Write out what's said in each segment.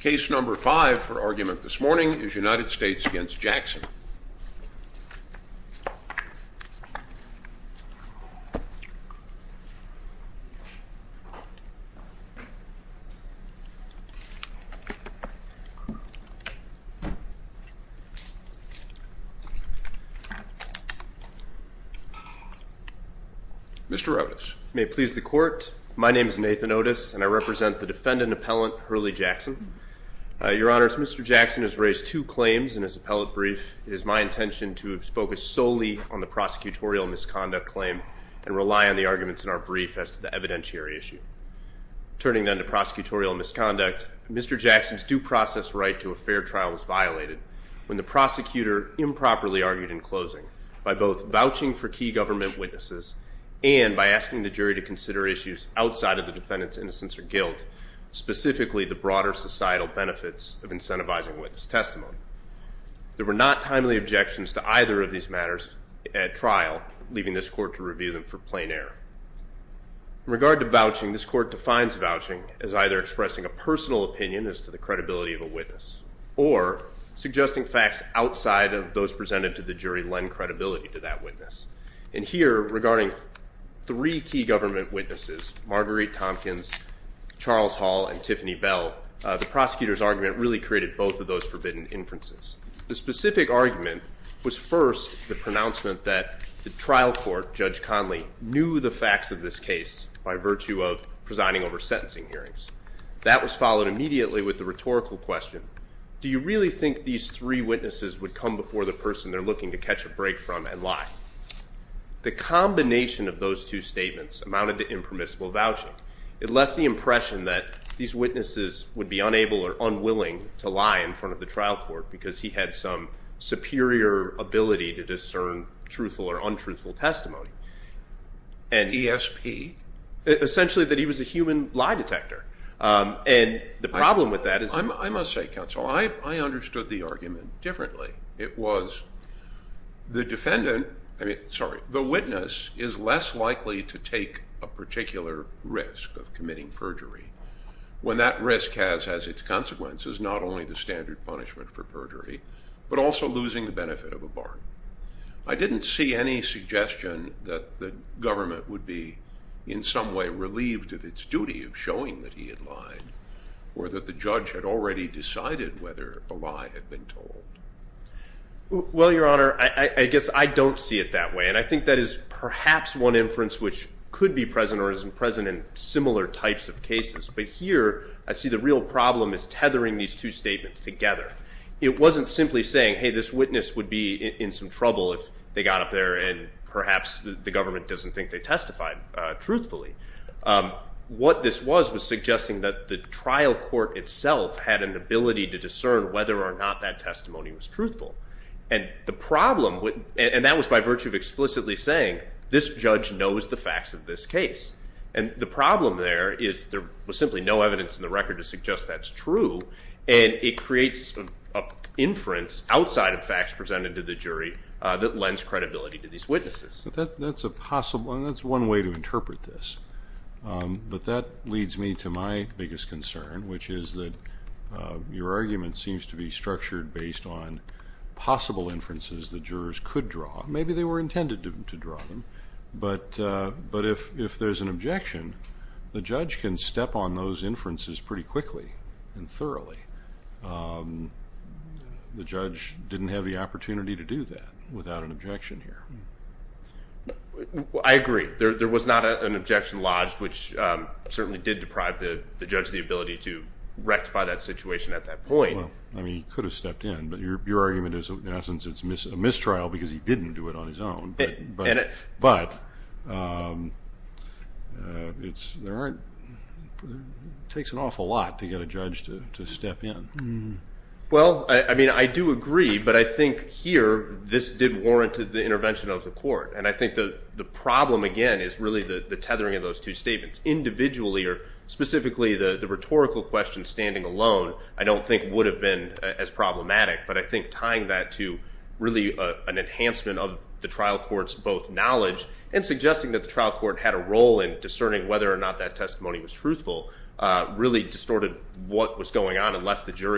Case number five for argument this morning is United States v. Jackson. Mr. Otis. May it please the court, my name is Nathan Otis and I represent the defendant appellant Hurley Jackson. Your honors, Mr. Jackson has raised two claims in his appellate brief. It is my intention to focus solely on the prosecutorial misconduct claim and rely on the arguments in our brief as to the evidentiary issue. Turning then to prosecutorial misconduct, Mr. Jackson's due process right to a fair trial was violated when the prosecutor improperly argued in closing by both vouching for key government witnesses and by asking the jury to consider issues outside of the defendant's innocence or guilt, specifically the broader societal benefits of incentivizing witness testimony. There were not timely objections to either of these matters at trial, leaving this court to review them for plain error. In regard to vouching, this court defines vouching as either expressing a personal opinion as to the credibility of a witness or suggesting facts outside of those presented to the jury lend credibility to that witness. And here, regarding three key government witnesses, Marguerite Tompkins, Charles Hall, and Tiffany Bell, the prosecutor's argument really created both of those forbidden inferences. The specific argument was first the pronouncement that the trial court, Judge Conley, knew the facts of this case by virtue of presiding over sentencing hearings. That was followed immediately with the rhetorical question, do you really think these three witnesses would come before the person they're looking to catch a break from and lie? The combination of those two statements amounted to impermissible vouching. It left the impression that these witnesses would be unable or unwilling to lie in front of the trial court because he had some superior ability to discern truthful or untruthful testimony. ESP? Essentially, that he was a human lie detector. And the problem with that I must say, counsel, I understood the argument differently. It was the defendant, I mean, sorry, the witness is less likely to take a particular risk of committing perjury when that risk has its consequences, not only the standard punishment for perjury, but also losing the benefit of a bargain. I didn't see any suggestion that the government would be in some way relieved of its duty of showing that he had lied, or that the judge had already decided whether a lie had been told. Well, your honor, I guess I don't see it that way. And I think that is perhaps one inference which could be present or isn't present in similar types of cases. But here, I see the real problem is tethering these two statements together. It wasn't simply saying, hey, this witness would be in some trouble if they got up there and perhaps the government doesn't think they testified truthfully. What this was, was suggesting that the trial court itself had an ability to discern whether or not that testimony was truthful. And the problem, and that was by virtue of explicitly saying, this judge knows the facts of this case. And the problem there is there was simply no evidence in the record to suggest that's true. And it creates an inference outside of facts presented to the jury that lends credibility to these witnesses. That's a possible, that's one way to interpret this. But that leads me to my biggest concern, which is that your argument seems to be structured based on possible inferences the jurors could draw. Maybe they were intended to draw them. But if there's an objection, the judge can step on those inferences pretty quickly and thoroughly. The judge didn't have the opportunity to do that without an objection here. I agree. There was not an objection lodged, which certainly did deprive the judge the ability to rectify that situation at that point. I mean, he could have stepped in. But your argument is, in essence, it's a mistrial because he didn't do it on his own. But it's, there aren't, it takes an awful lot to get a judge to step in. Well, I mean, I do agree. But I think here, this did warrant the intervention of the court. And I think the problem, again, is really the tethering of those two statements. Individually, or specifically the rhetorical question standing alone, I don't think would have been as problematic. But I think tying that to really an enhancement of the trial court's both knowledge and suggesting that the trial court had a role in discerning whether or not that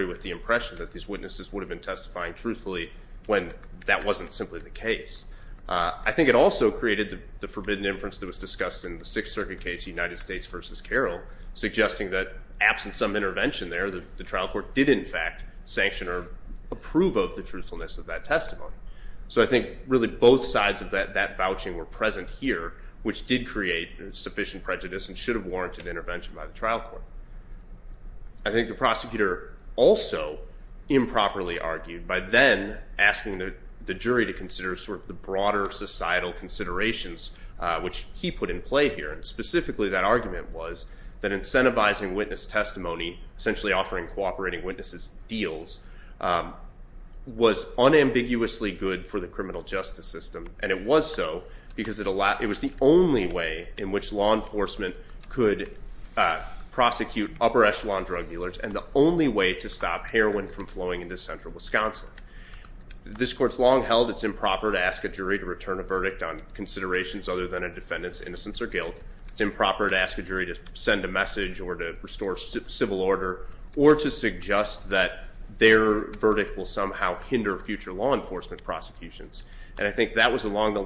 with the impression that these witnesses would have been testifying truthfully when that wasn't simply the case. I think it also created the forbidden inference that was discussed in the Sixth Circuit case, United States v. Carroll, suggesting that absent some intervention there, the trial court did, in fact, sanction or approve of the truthfulness of that testimony. So I think, really, both sides of that vouching were present here, which did create sufficient prejudice and should have warranted intervention by the trial court. I think the prosecutor also improperly argued by then asking the jury to consider the broader societal considerations, which he put in play here. And specifically, that argument was that incentivizing witness testimony, essentially offering cooperating witnesses deals, was unambiguously good for the criminal justice system. And it was so because it was the only way in which law enforcement could prosecute upper echelon drug dealers and the only way to stop heroin from flowing into central Wisconsin. This court's long held it's improper to ask a jury to return a verdict on considerations other than a defendant's innocence or guilt. It's improper to ask a jury to send a message or to restore civil order or to suggest that their verdict will somehow hinder future law enforcement prosecutions. And I think that was along the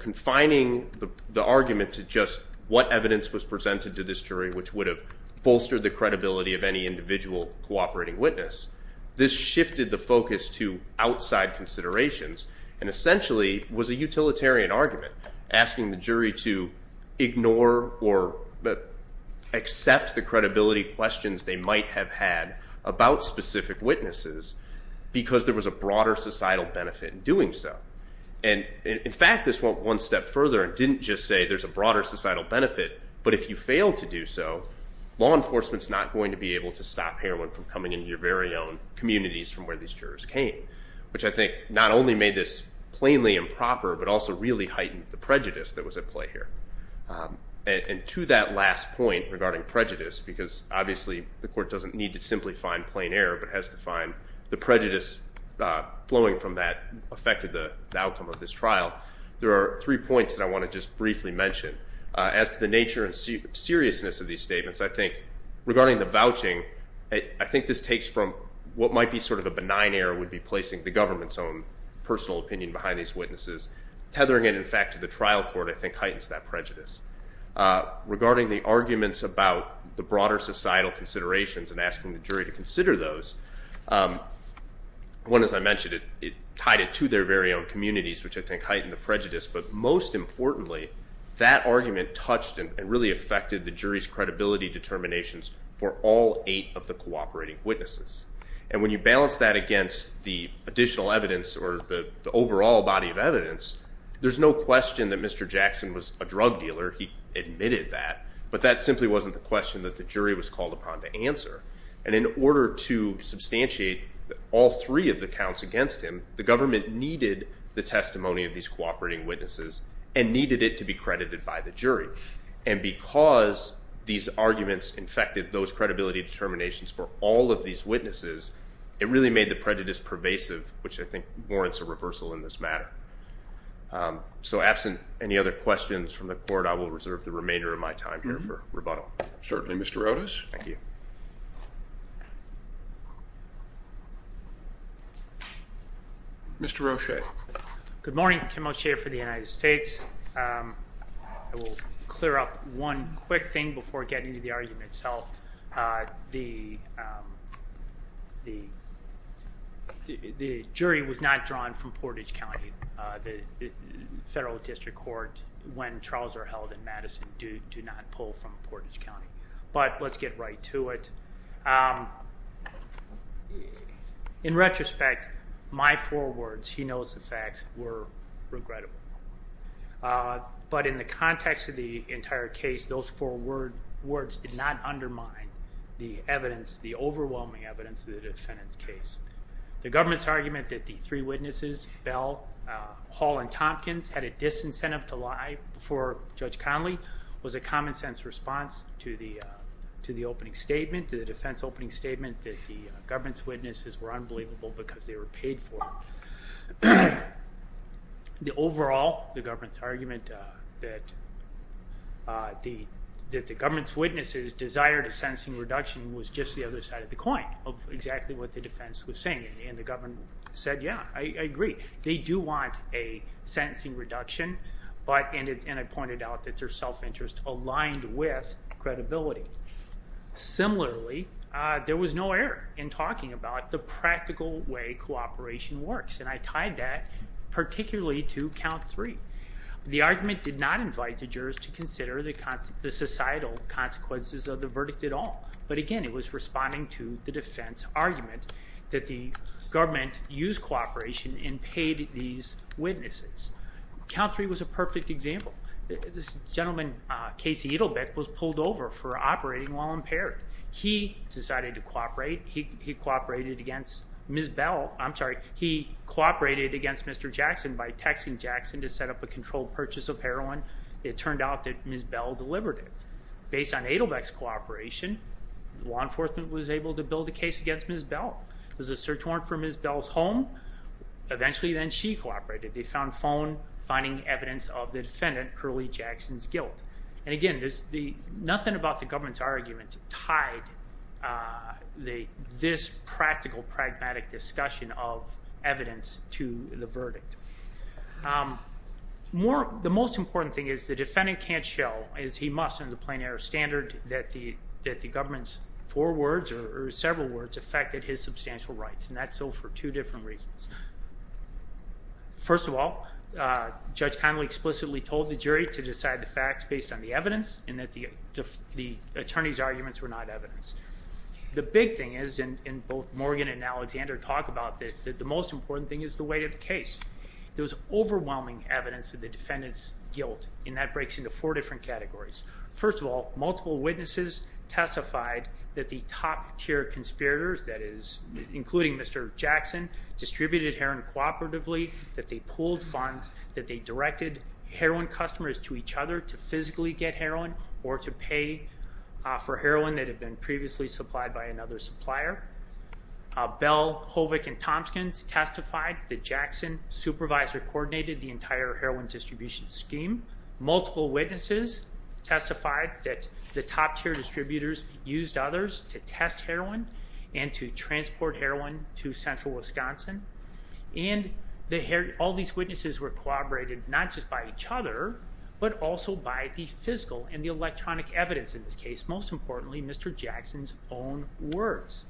confining the argument to just what evidence was presented to this jury, which would have bolstered the credibility of any individual cooperating witness. This shifted the focus to outside considerations and essentially was a utilitarian argument, asking the jury to ignore or accept the credibility questions they might have had about specific witnesses because there was a didn't just say there's a broader societal benefit, but if you fail to do so, law enforcement's not going to be able to stop heroin from coming into your very own communities from where these jurors came, which I think not only made this plainly improper, but also really heightened the prejudice that was at play here. And to that last point regarding prejudice, because obviously the court doesn't need to simply find plain error, but has to find the prejudice flowing from that affected outcome of this trial, there are three points that I want to just briefly mention. As to the nature and seriousness of these statements, I think regarding the vouching, I think this takes from what might be sort of a benign error would be placing the government's own personal opinion behind these witnesses, tethering it in fact to the trial court, I think heightens that prejudice. Regarding the arguments about the broader societal considerations and asking the jury to consider those, one, as I mentioned, it tied it to their very own communities, which I think heightened the prejudice. But most importantly, that argument touched and really affected the jury's credibility determinations for all eight of the cooperating witnesses. And when you balance that against the additional evidence or the overall body of evidence, there's no question that Mr. Jackson was a drug dealer. He admitted that, but that simply wasn't the question that the jury was substantiate all three of the counts against him. The government needed the testimony of these cooperating witnesses and needed it to be credited by the jury. And because these arguments infected those credibility determinations for all of these witnesses, it really made the prejudice pervasive, which I think warrants a reversal in this matter. So absent any other questions from the court, I will reserve the remainder of my time here for rebuttal. Certainly, Mr. Otis. Thank you. Mr. Roche. Good morning, Kim O'Shea for the United States. I will clear up one quick thing before getting to the argument itself. The jury was not drawn from Portage County. The federal district court, when trials are held in Madison, do not pull from Portage County. But let's get right to it. In retrospect, my four words, he knows the facts, were regrettable. But in the context of the entire case, those four words did not undermine the evidence, the overwhelming evidence of the defendant's case. The government's argument that the three witnesses, Bell, Hall, and Tompkins, had a disincentive to lie before Judge Connolly was a common-sense response to the defense opening statement that the government's witnesses were unbelievable because they were paid for. Overall, the government's argument that the government's witnesses desired a sentencing reduction was just the other side of the coin of exactly what the defense was saying. And the government said, yeah, I agree. They do want a sentencing reduction. And I pointed out that their self-interest aligned with credibility. Similarly, there was no error in talking about the practical way cooperation works. And I tied that particularly to count three. The argument did not invite the jurors to consider the societal consequences of the verdict at all. But again, it was responding to the defense argument that the government used cooperation and paid these witnesses. Count three was a perfect example. This gentleman, Casey Edelbeck, was pulled over for operating while impaired. He decided to cooperate. He cooperated against Ms. Bell. I'm sorry. He cooperated against Mr. Jackson by texting Jackson to set up a controlled purchase of heroin. It turned out that Ms. Bell delivered it. Based on Edelbeck's cooperation, the law enforcement was able to build a case against Ms. Bell. There was a search warrant for Ms. Bell's home. Eventually, then she cooperated. They found phone finding evidence of the defendant, Curley Jackson's, guilt. And again, nothing about the government's argument tied this practical, pragmatic discussion of evidence to the verdict. The most important thing is the defendant can't show, as he must in the plain air standard, that the government's four words or several words affected his substantial rights. And that's so for two different reasons. First of all, Judge Connolly explicitly told the jury to decide the facts based on the evidence and that the attorney's arguments were not evidence. The big thing is, and both Morgan and Alexander talk about this, that the most important thing is the weight of that. And that breaks into four different categories. First of all, multiple witnesses testified that the top tier conspirators, that is, including Mr. Jackson, distributed heroin cooperatively, that they pooled funds, that they directed heroin customers to each other to physically get heroin or to pay for heroin that had been previously supplied by another supplier. Bell, Hovick, and Tompkins testified that Jackson's supervisor coordinated the entire process. Multiple witnesses testified that the top tier distributors used others to test heroin and to transport heroin to central Wisconsin. And all these witnesses were cooperated not just by each other, but also by the physical and the electronic evidence in this case, most importantly, Mr. Jackson's own words.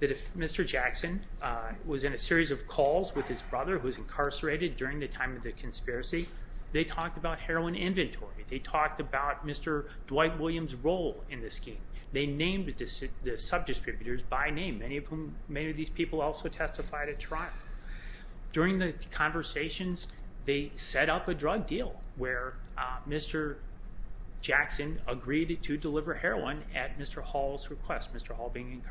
That if Mr. Jackson was in a series of calls with his brother who was incarcerated during the time of the conspiracy, they talked about heroin inventory. They talked about Mr. Dwight Williams' role in the scheme. They named the sub-distributors by name, many of whom, many of these people also testified at trial. During the conversations, they set up a drug deal where Mr. Jackson agreed to deliver heroin at Mr. Hall's request, Mr. Hall being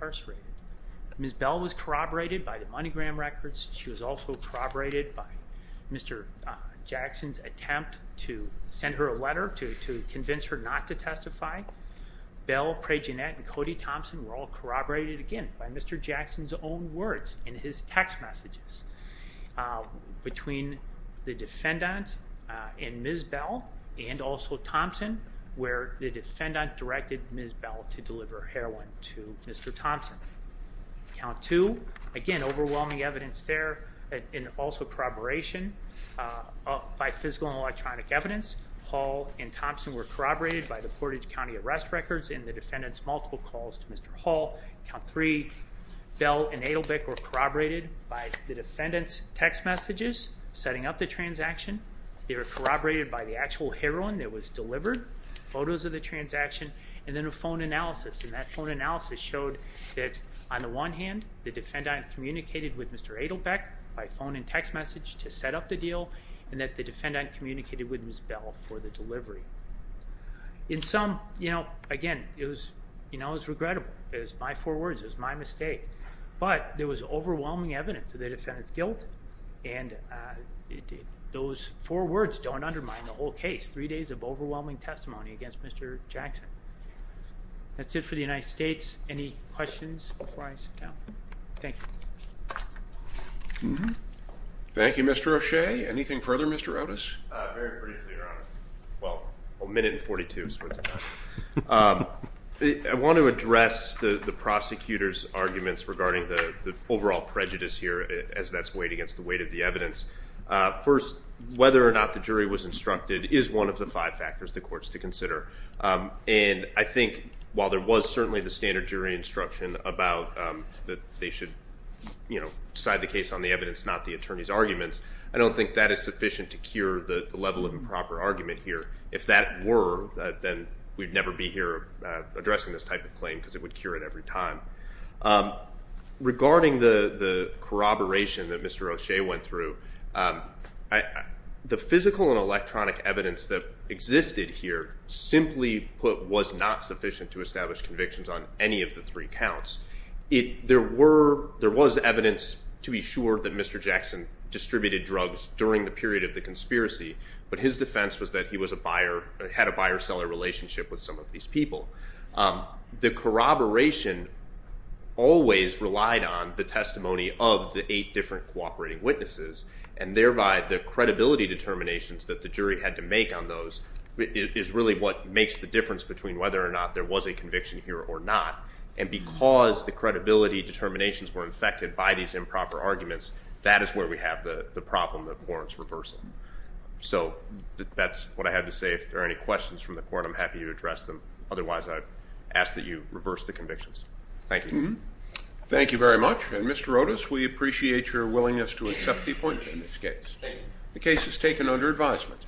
corroborated by Mr. Jackson's attempt to send her a letter to convince her not to testify. Bell, Prejeanette, and Cody Thompson were all corroborated again by Mr. Jackson's own words in his text messages between the defendant and Ms. Bell and also Thompson, where the defendant directed Ms. Bell to deliver heroin to Mr. Thompson. Count two, again, overwhelming evidence there and also corroboration by physical and electronic evidence. Hall and Thompson were corroborated by the Portage County arrest records in the defendant's multiple calls to Mr. Hall. Count three, Bell and Adelbeck were corroborated by the defendant's text messages setting up the transaction. They were corroborated by the actual heroin that was delivered, photos of the transaction, and then a phone analysis. And that phone analysis showed that on the one hand, the defendant communicated with Mr. Adelbeck by phone and text message to set up the deal and that the defendant communicated with Ms. Bell for the delivery. In sum, again, it was regrettable. It was my four words. It was my mistake. But there was overwhelming evidence of the defendant's guilt and those four words don't undermine the whole case. Three days of overwhelming testimony against Mr. Jackson. That's it for the United States. Any questions before I sit down? Thank you. Thank you, Mr. O'Shea. Anything further, Mr. Otis? Very briefly, Your Honor. Well, a minute and 42 is what it's about. I want to address the prosecutor's arguments regarding the overall prejudice here as that's weighed against the weight of the evidence. First, whether or not the jury was instructed is one of the five factors the courts to consider. And I think while there was certainly the standard jury instruction about that they should decide the case on the evidence, not the attorney's arguments, I don't think that is sufficient to cure the level of improper argument here. If that were, then we'd never be here addressing this type of claim because it would cure it every time. Regarding the corroboration that Mr. O'Shea went through, the physical and electronic evidence that existed here simply was not sufficient to establish convictions on any of the three counts. There was evidence to be sure that Mr. Jackson distributed drugs during the period of the conspiracy, but his defense was that he had a buyer-seller relationship with some of these people. The corroboration always relied on the credibility determinations that the jury had to make on those is really what makes the difference between whether or not there was a conviction here or not. And because the credibility determinations were infected by these improper arguments, that is where we have the problem that warrants reversal. So that's what I had to say. If there are any questions from the court, I'm happy to address them. Otherwise, I ask that you reverse the convictions. Thank you. Thank you very much. And Mr. Otis, we appreciate your willingness to accept the appointment in this case. The case is taken under advisement.